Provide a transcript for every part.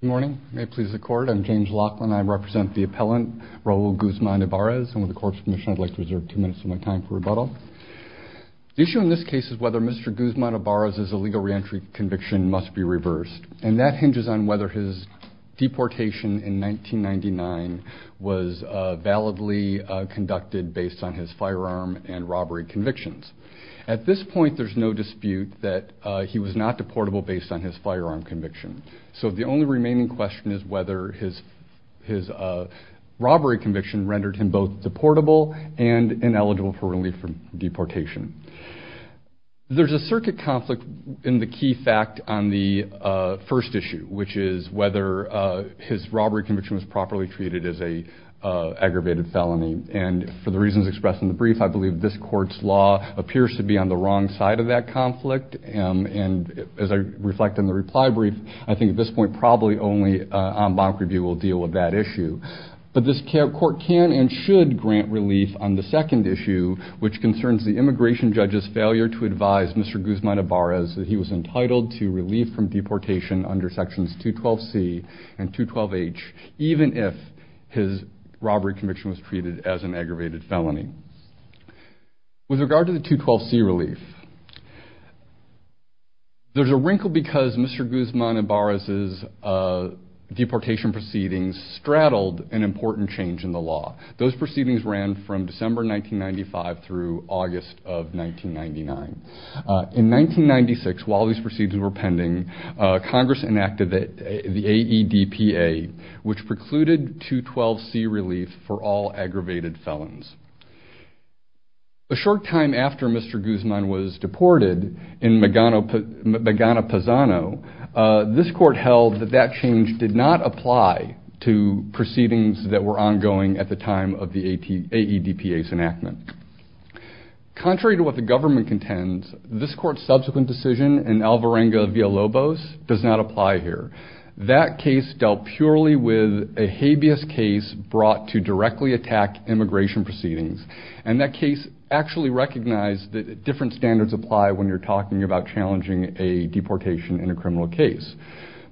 Good morning. I'm James Laughlin. I represent the appellant Raul Guzman-Ibarez. And with the court's permission, I'd like to reserve two minutes of my time for rebuttal. The issue in this case is whether Mr. Guzman-Ibarez's illegal reentry conviction must be reversed. And that hinges on whether his deportation in 1999 was validly conducted based on his firearm and robbery convictions. At this point, there's no dispute that he was not deportable based on his firearm conviction. So the only remaining question is whether his robbery conviction rendered him both deportable and ineligible for relief from deportation. There's a circuit conflict in the key fact on the first issue, which is whether his robbery conviction was properly treated as an aggravated felony. And for the reasons expressed in the brief, I believe this court's law appears to be on the wrong side of that conflict. And as I reflect on the reply brief, I think at this point probably only en banc review will deal with that issue. But this court can and should grant relief on the second issue, which concerns the immigration judge's failure to advise Mr. Guzman-Ibarez that he was entitled to relief from deportation under sections 212C and 212H, even if his robbery conviction was treated as an aggravated felony. With regard to the 212C relief, there's a wrinkle because Mr. Guzman-Ibarez's deportation proceedings straddled an important change in the law. Those proceedings ran from December 1995 through August of 1999. In 1996, while these proceedings were pending, Congress enacted the AEDPA, which precluded 212C relief for all aggravated felons. A short time after Mr. Guzman was deported in Magana-Pazano, this court held that that change did not apply to proceedings that were ongoing at the time of the AEDPA's enactment. Contrary to what the government contends, this court's subsequent decision in Alvarenga-Villalobos does not apply here. That case dealt purely with a habeas case brought to directly attack immigration proceedings. And that case actually recognized that different standards apply when you're talking about challenging a deportation in a criminal case.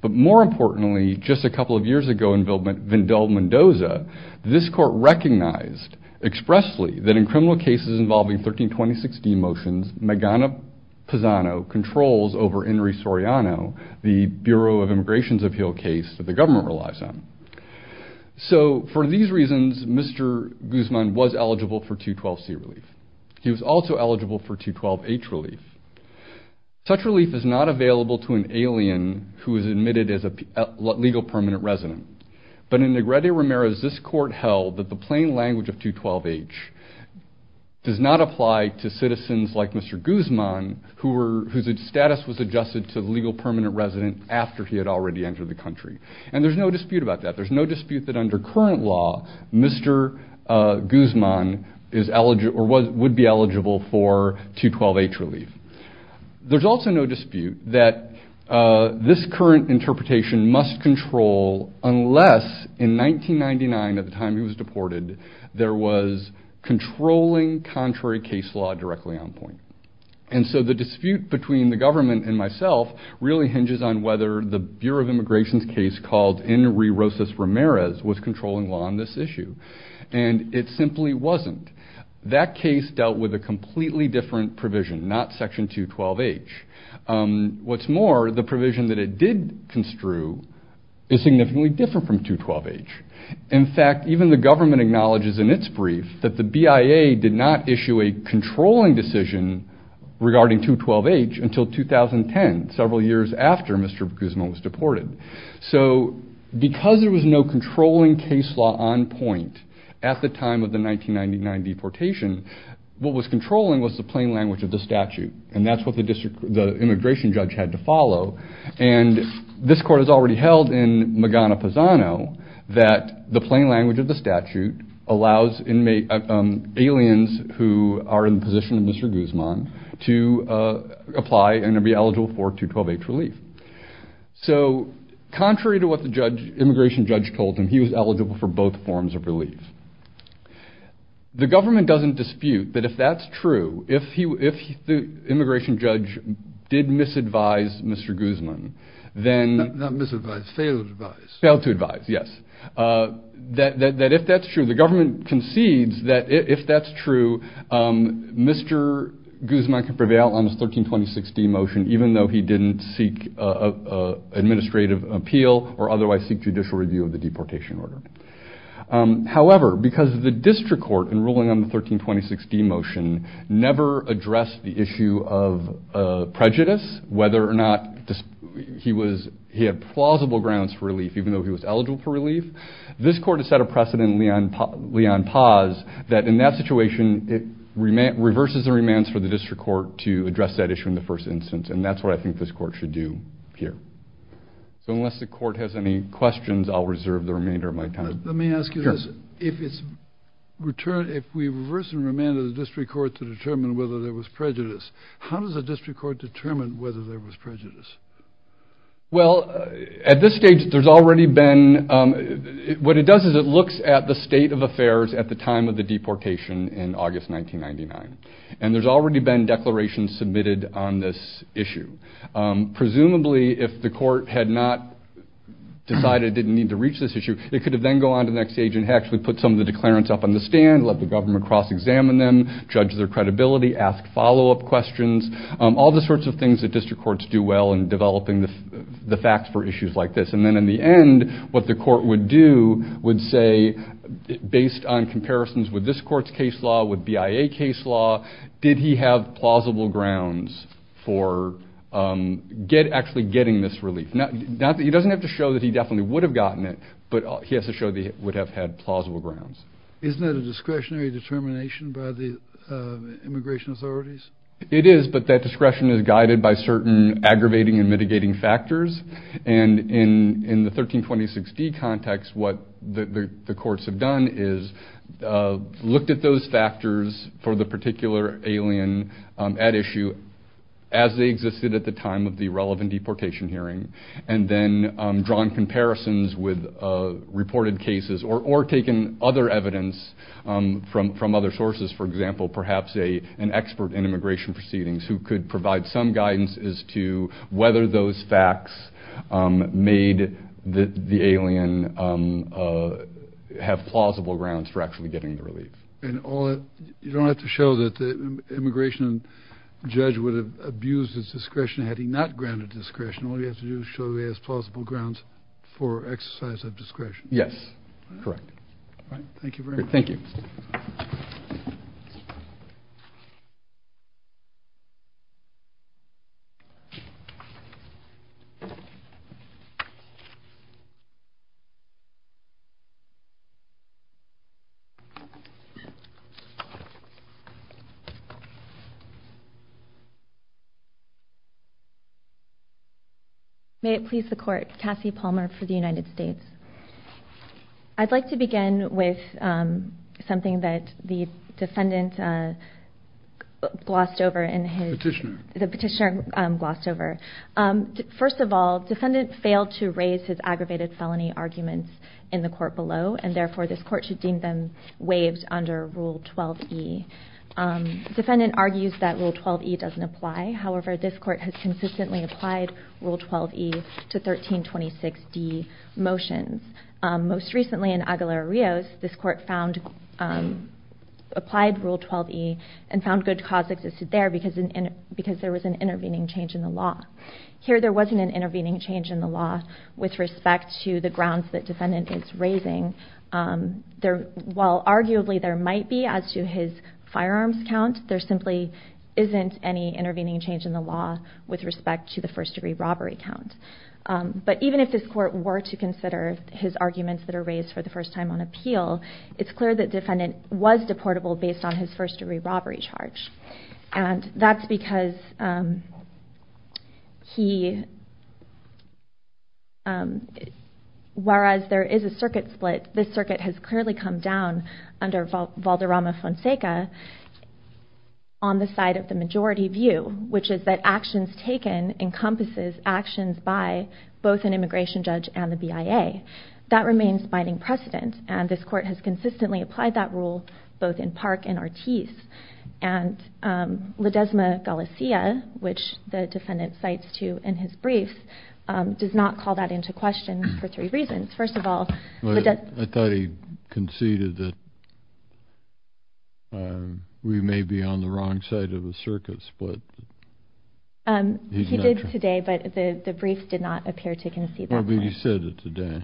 But more importantly, just a couple of years ago in Vindel Mendoza, this court recognized expressly that in criminal cases involving 1320-16 motions, Magana-Pazano controls over Henry Soriano, the Bureau of Immigration's appeal case that the government relies on. So for these reasons, Mr. Guzman was eligible for 212C relief. He was also eligible for 212H relief. Such relief is not available to an alien who is admitted as a legal permanent resident. But in Negrete-Ramirez, this court held that the plain language of 212H does not apply to citizens like Mr. Guzman, whose status was adjusted to legal permanent resident after he had already entered the country. And there's no dispute about that. There's no dispute that under current law, Mr. Guzman would be eligible for 212H relief. There's also no dispute that this current interpretation must control unless in 1999, at the time he was deported, there was controlling contrary case law directly on point. And so the dispute between the government and myself really hinges on whether the Bureau of Immigration's case called Henry Rosas-Ramirez was controlling law on this issue. And it simply wasn't. That case dealt with a completely different provision, not Section 212H. What's more, the provision that it did construe is significantly different from 212H. In fact, even the government acknowledges in its brief that the BIA did not issue a controlling decision regarding 212H until 2010, several years after Mr. Guzman was deported. So because there was no controlling case law on point at the time of the 1999 deportation, what was controlling was the plain language of the statute. And that's what the immigration judge had to follow. And this court has already held in Magana-Posano that the plain language of the statute allows aliens who are in the position of Mr. Guzman to apply and to be eligible for 212H relief. So contrary to what the immigration judge told him, he was eligible for both forms of relief. The government doesn't dispute that if that's true, if the immigration judge did misadvise Mr. Guzman, then... Not misadvise, fail to advise. Fail to advise, yes. That if that's true, the government concedes that if that's true, Mr. Guzman can prevail on the 1326D motion even though he didn't seek administrative appeal or otherwise seek judicial review of the deportation order. However, because the district court in ruling on the 1326D motion never addressed the issue of prejudice, whether or not he had plausible grounds for relief even though he was eligible for relief, this court has set a precedent in Leon-Paz that in that situation, it reverses the remands for the district court to address that issue in the first instance. And that's what I think this court should do here. So unless the court has any questions, I'll reserve the remainder of my time. Let me ask you this. Sure. If we reverse the remand of the district court to determine whether there was prejudice, how does the district court determine whether there was prejudice? Well, at this stage, there's already been – what it does is it looks at the state of affairs at the time of the deportation in August 1999. And there's already been declarations submitted on this issue. Presumably, if the court had not decided it didn't need to reach this issue, it could have then gone on to the next stage and actually put some of the declarants up on the stand, let the government cross-examine them, judge their credibility, ask follow-up questions, all the sorts of things that district courts do well in developing the facts for issues like this. And then in the end, what the court would do would say, based on comparisons with this court's case law, with BIA case law, did he have plausible grounds for actually getting this relief. He doesn't have to show that he definitely would have gotten it, but he has to show that he would have had plausible grounds. Isn't that a discretionary determination by the immigration authorities? It is, but that discretion is guided by certain aggravating and mitigating factors. And in the 1326D context, what the courts have done is looked at those factors for the particular alien at issue as they existed at the time of the relevant deportation hearing and then drawn comparisons with reported cases or taken other evidence from other sources. For example, perhaps an expert in immigration proceedings who could provide some guidance as to whether those facts made the alien have plausible grounds for actually getting the relief. And you don't have to show that the immigration judge would have abused his discretion had he not granted discretion. All you have to do is show he has plausible grounds for exercise of discretion. Yes, correct. All right, thank you very much. Thank you. May it please the Court, Cassie Palmer for the United States. I'd like to begin with something that the defendant glossed over. Petitioner. The petitioner glossed over. First of all, defendant failed to raise his aggravated felony arguments in the court below, and therefore this court should deem them waived under Rule 12e. Defendant argues that Rule 12e doesn't apply. However, this court has consistently applied Rule 12e to 1326d motions. Most recently in Aguilera-Rios, this court applied Rule 12e and found good cause existed there because there was an intervening change in the law. Here there wasn't an intervening change in the law with respect to the grounds that defendant is raising. While arguably there might be as to his firearms count, there simply isn't any intervening change in the law with respect to the first-degree robbery count. But even if this court were to consider his arguments that are raised for the first time on appeal, it's clear that defendant was deportable based on his first-degree robbery charge. And that's because he, whereas there is a circuit split, this circuit has clearly come down under Valderrama-Fonseca on the side of the majority view, which is that actions taken encompasses actions by both an immigration judge and the BIA. That remains binding precedent, and this court has consistently applied that rule both in Park and Ortiz. And Ledesma-Galicia, which the defendant cites too in his brief, does not call that into question for three reasons. First of all- I thought he conceded that we may be on the wrong side of a circuit split. He did today, but the brief did not appear to concede that point. Well, but he said it today.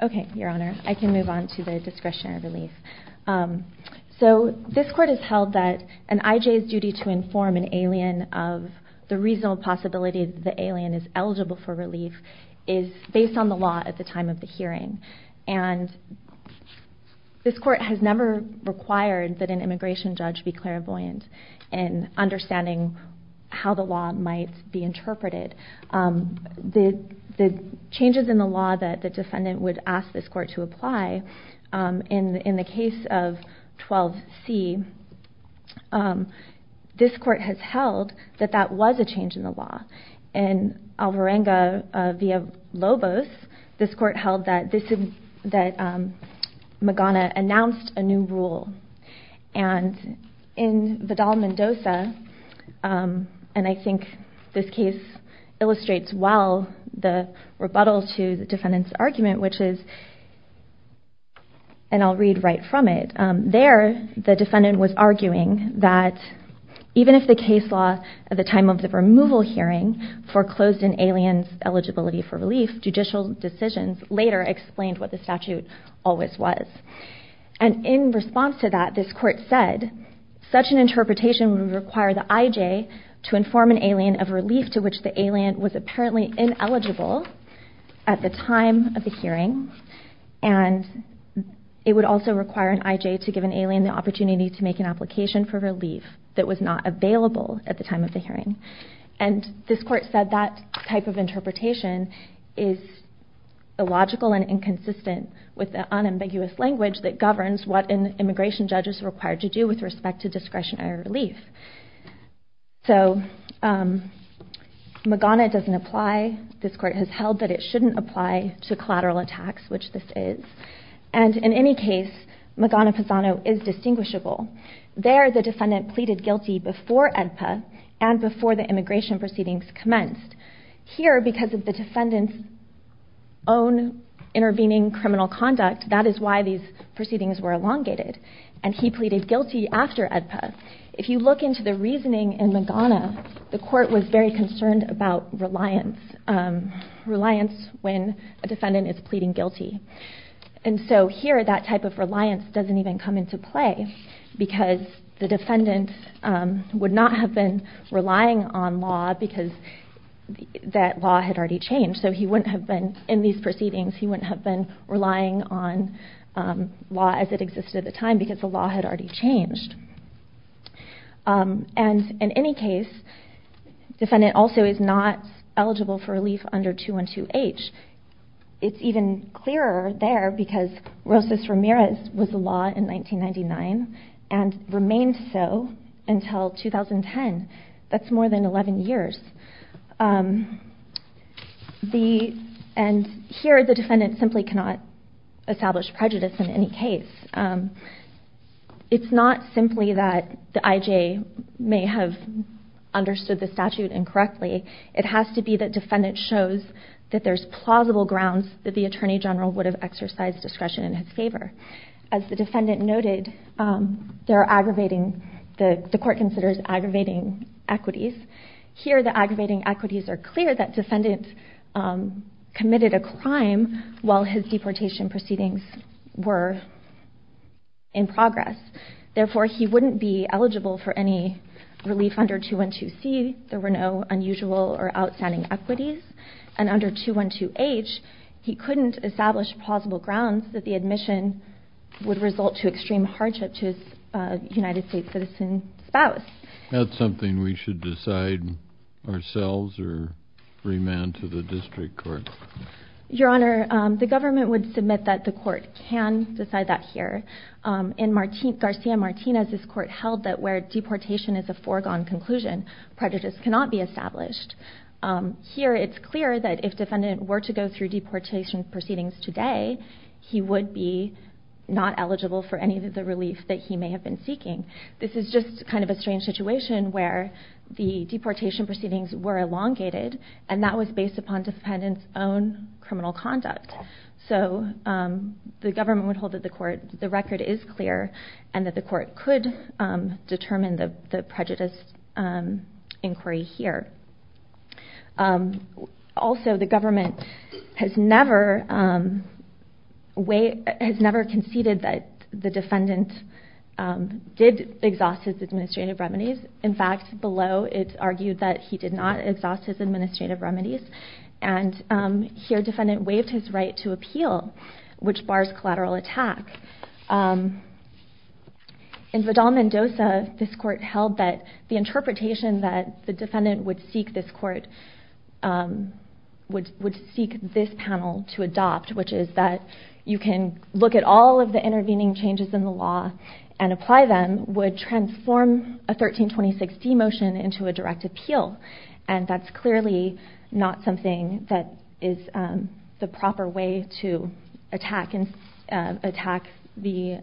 Okay, Your Honor. I can move on to the discretionary relief. So this court has held that an IJ's duty to inform an alien of the reasonable possibility that the alien is eligible for relief is based on the law at the time of the hearing. And this court has never required that an immigration judge be clairvoyant in understanding how the law might be interpreted. The changes in the law that the defendant would ask this court to apply, in the case of 12C, this court has held that that was a change in the law. In Alvarenga v. Lobos, this court held that Magana announced a new rule. And in Vidal-Mendoza, and I think this case illustrates well the rebuttal to the defendant's argument, which is- and I'll read right from it- There, the defendant was arguing that even if the case law at the time of the removal hearing foreclosed an alien's eligibility for relief, judicial decisions later explained what the statute always was. And in response to that, this court said, such an interpretation would require the IJ to inform an alien of relief to which the alien was apparently ineligible at the time of the hearing, and it would also require an IJ to give an alien the opportunity to make an application for relief that was not available at the time of the hearing. And this court said that type of interpretation is illogical and inconsistent with the unambiguous language that governs what an immigration judge is required to do with respect to discretionary relief. So Magana doesn't apply. This court has held that it shouldn't apply to collateral attacks, which this is. And in any case, Magana-Pazano is distinguishable. There, the defendant pleaded guilty before AEDPA and before the immigration proceedings commenced. Here, because of the defendant's own intervening criminal conduct, that is why these proceedings were elongated. And he pleaded guilty after AEDPA. If you look into the reasoning in Magana, the court was very concerned about reliance, reliance when a defendant is pleading guilty. And so here, that type of reliance doesn't even come into play because the defendant would not have been relying on law because that law had already changed. So he wouldn't have been, in these proceedings, he wouldn't have been relying on law as it existed at the time because the law had already changed. And in any case, the defendant also is not eligible for relief under 212H. It's even clearer there because Rosas-Ramirez was the law in 1999 and remained so until 2010. That's more than 11 years. And here, the defendant simply cannot establish prejudice in any case. It's not simply that the IJ may have understood the statute incorrectly. It has to be that defendant shows that there's plausible grounds that the Attorney General would have exercised discretion in his favor. As the defendant noted, the court considers aggravating equities. Here, the aggravating equities are clear that defendant committed a crime while his deportation proceedings were in progress. Therefore, he wouldn't be eligible for any relief under 212C. There were no unusual or outstanding equities. And under 212H, he couldn't establish plausible grounds that the admission would result to extreme hardship to his United States citizen spouse. That's something we should decide ourselves or remand to the district court. Your Honor, the government would submit that the court can decide that here. In Garcia-Martinez, this court held that where deportation is a foregone conclusion, prejudice cannot be established. Here, it's clear that if defendant were to go through deportation proceedings today, he would be not eligible for any of the relief that he may have been seeking. This is just kind of a strange situation where the deportation proceedings were elongated, and that was based upon defendant's own criminal conduct. So the government would hold that the record is clear and that the court could determine the prejudice inquiry here. Also, the government has never conceded that the defendant did exhaust his administrative remedies. In fact, below, it's argued that he did not exhaust his administrative remedies. And here, defendant waived his right to appeal, which bars collateral attack. In Vidal-Mendoza, this court held that the interpretation that the defendant would seek this panel to adopt, which is that you can look at all of the intervening changes in the law and apply them, would transform a 1326d motion into a direct appeal. And that's clearly not something that is the proper way to attack the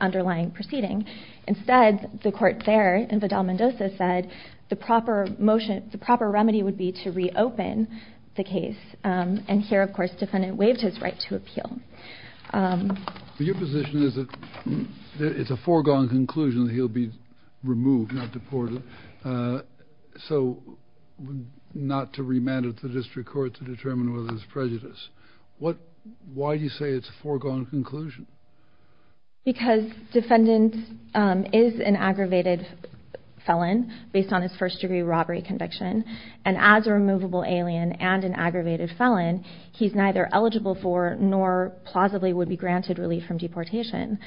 underlying proceeding. Instead, the court there in Vidal-Mendoza said the proper motion, the proper remedy would be to reopen the case. And here, of course, defendant waived his right to appeal. Your position is that it's a foregone conclusion that he'll be removed, not deported, so not to remand it to district court to determine whether it's prejudice. Why do you say it's a foregone conclusion? Because defendant is an aggravated felon based on his first-degree robbery conviction, and as a removable alien and an aggravated felon, he's neither eligible for nor plausibly would be granted relief from deportation.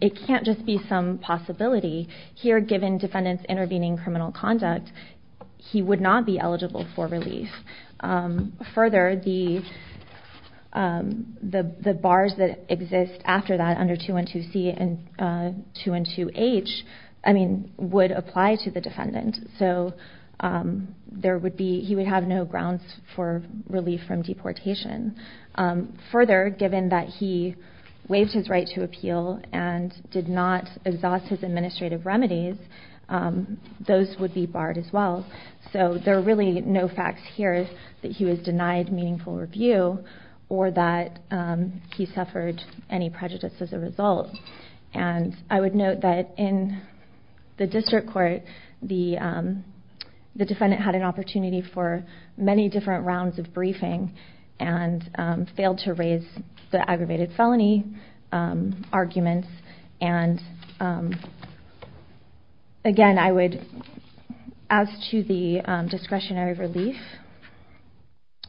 It can't just be some possibility. Here, given defendant's intervening criminal conduct, he would not be eligible for relief. Further, the bars that exist after that under 212C and 212H would apply to the defendant. So he would have no grounds for relief from deportation. Further, given that he waived his right to appeal and did not exhaust his administrative remedies, those would be barred as well. So there are really no facts here that he was denied meaningful review or that he suffered any prejudice as a result. And I would note that in the district court, the defendant had an opportunity for many different rounds of briefing and failed to raise the aggravated felony arguments. And again, as to the discretionary relief,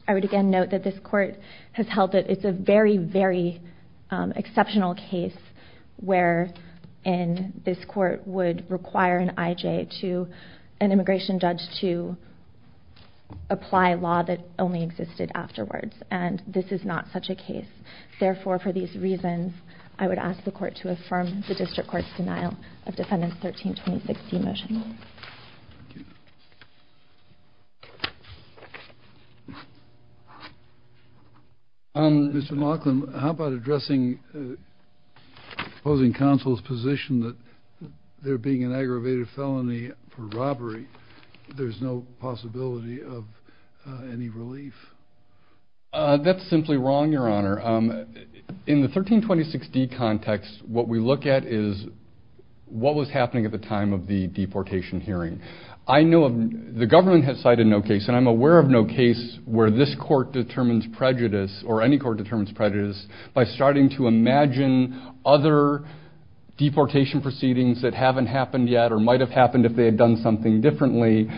I would again note that this court has held that it's a very, very exceptional case where this court would require an IJ, an immigration judge, to apply law that only existed afterwards. And this is not such a case. Therefore, for these reasons, I would ask the court to affirm the district court's denial of defendant's 1326C motion. Mr. Laughlin, how about addressing the opposing counsel's position that there being an aggravated felony for robbery, there's no possibility of any relief? That's simply wrong, Your Honor. In the 1326D context, what we look at is what was happening at the time of the deportation hearing. The government has cited no case, and I'm aware of no case where this court determines prejudice, or any court determines prejudice, by starting to imagine other deportation proceedings that haven't happened yet or might have happened if they had done something differently.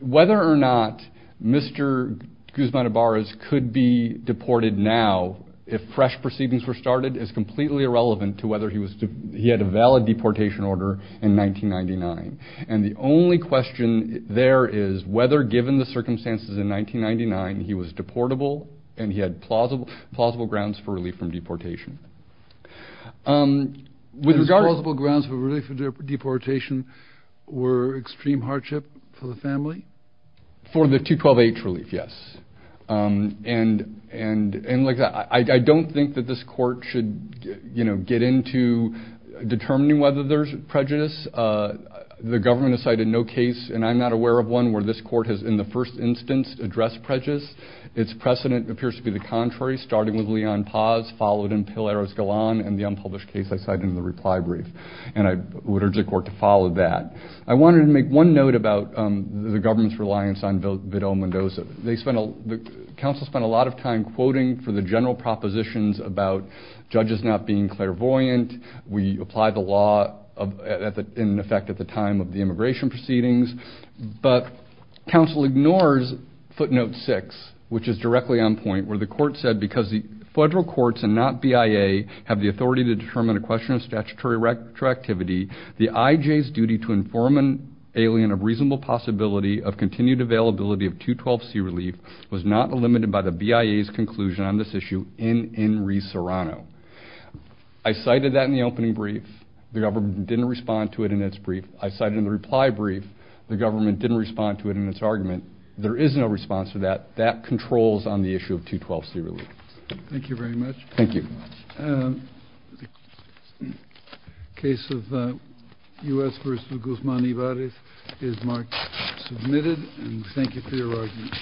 Whether or not Mr. Guzman-Ibarras could be deported now if fresh proceedings were started is completely irrelevant to whether he had a valid deportation order in 1999. And the only question there is whether, given the circumstances in 1999, he was deportable and he had plausible grounds for relief from deportation. His plausible grounds for relief from deportation were extreme hardship for the family? For the 212H relief, yes. I don't think that this court should get into determining whether there's prejudice. The government has cited no case, and I'm not aware of one, where this court has in the first instance addressed prejudice. Its precedent appears to be the contrary, starting with Leon Paz, followed in Pilar Escalon, and the unpublished case I cited in the reply brief, and I would urge the court to follow that. I wanted to make one note about the government's reliance on Vidal-Mendoza. The counsel spent a lot of time quoting for the general propositions about judges not being clairvoyant. We applied the law in effect at the time of the immigration proceedings. But counsel ignores footnote 6, which is directly on point, where the court said, because the federal courts and not BIA have the authority to determine a question of statutory retroactivity, the IJ's duty to inform an alien of reasonable possibility of continued availability of 212C relief was not limited by the BIA's conclusion on this issue in Enri Serrano. I cited that in the opening brief. The government didn't respond to it in its brief. I cited it in the reply brief. The government didn't respond to it in its argument. There is no response to that. That controls on the issue of 212C relief. Thank you very much. Thank you. The case of U.S. v. Guzman Ibarez is marked submitted. And thank you for your argument.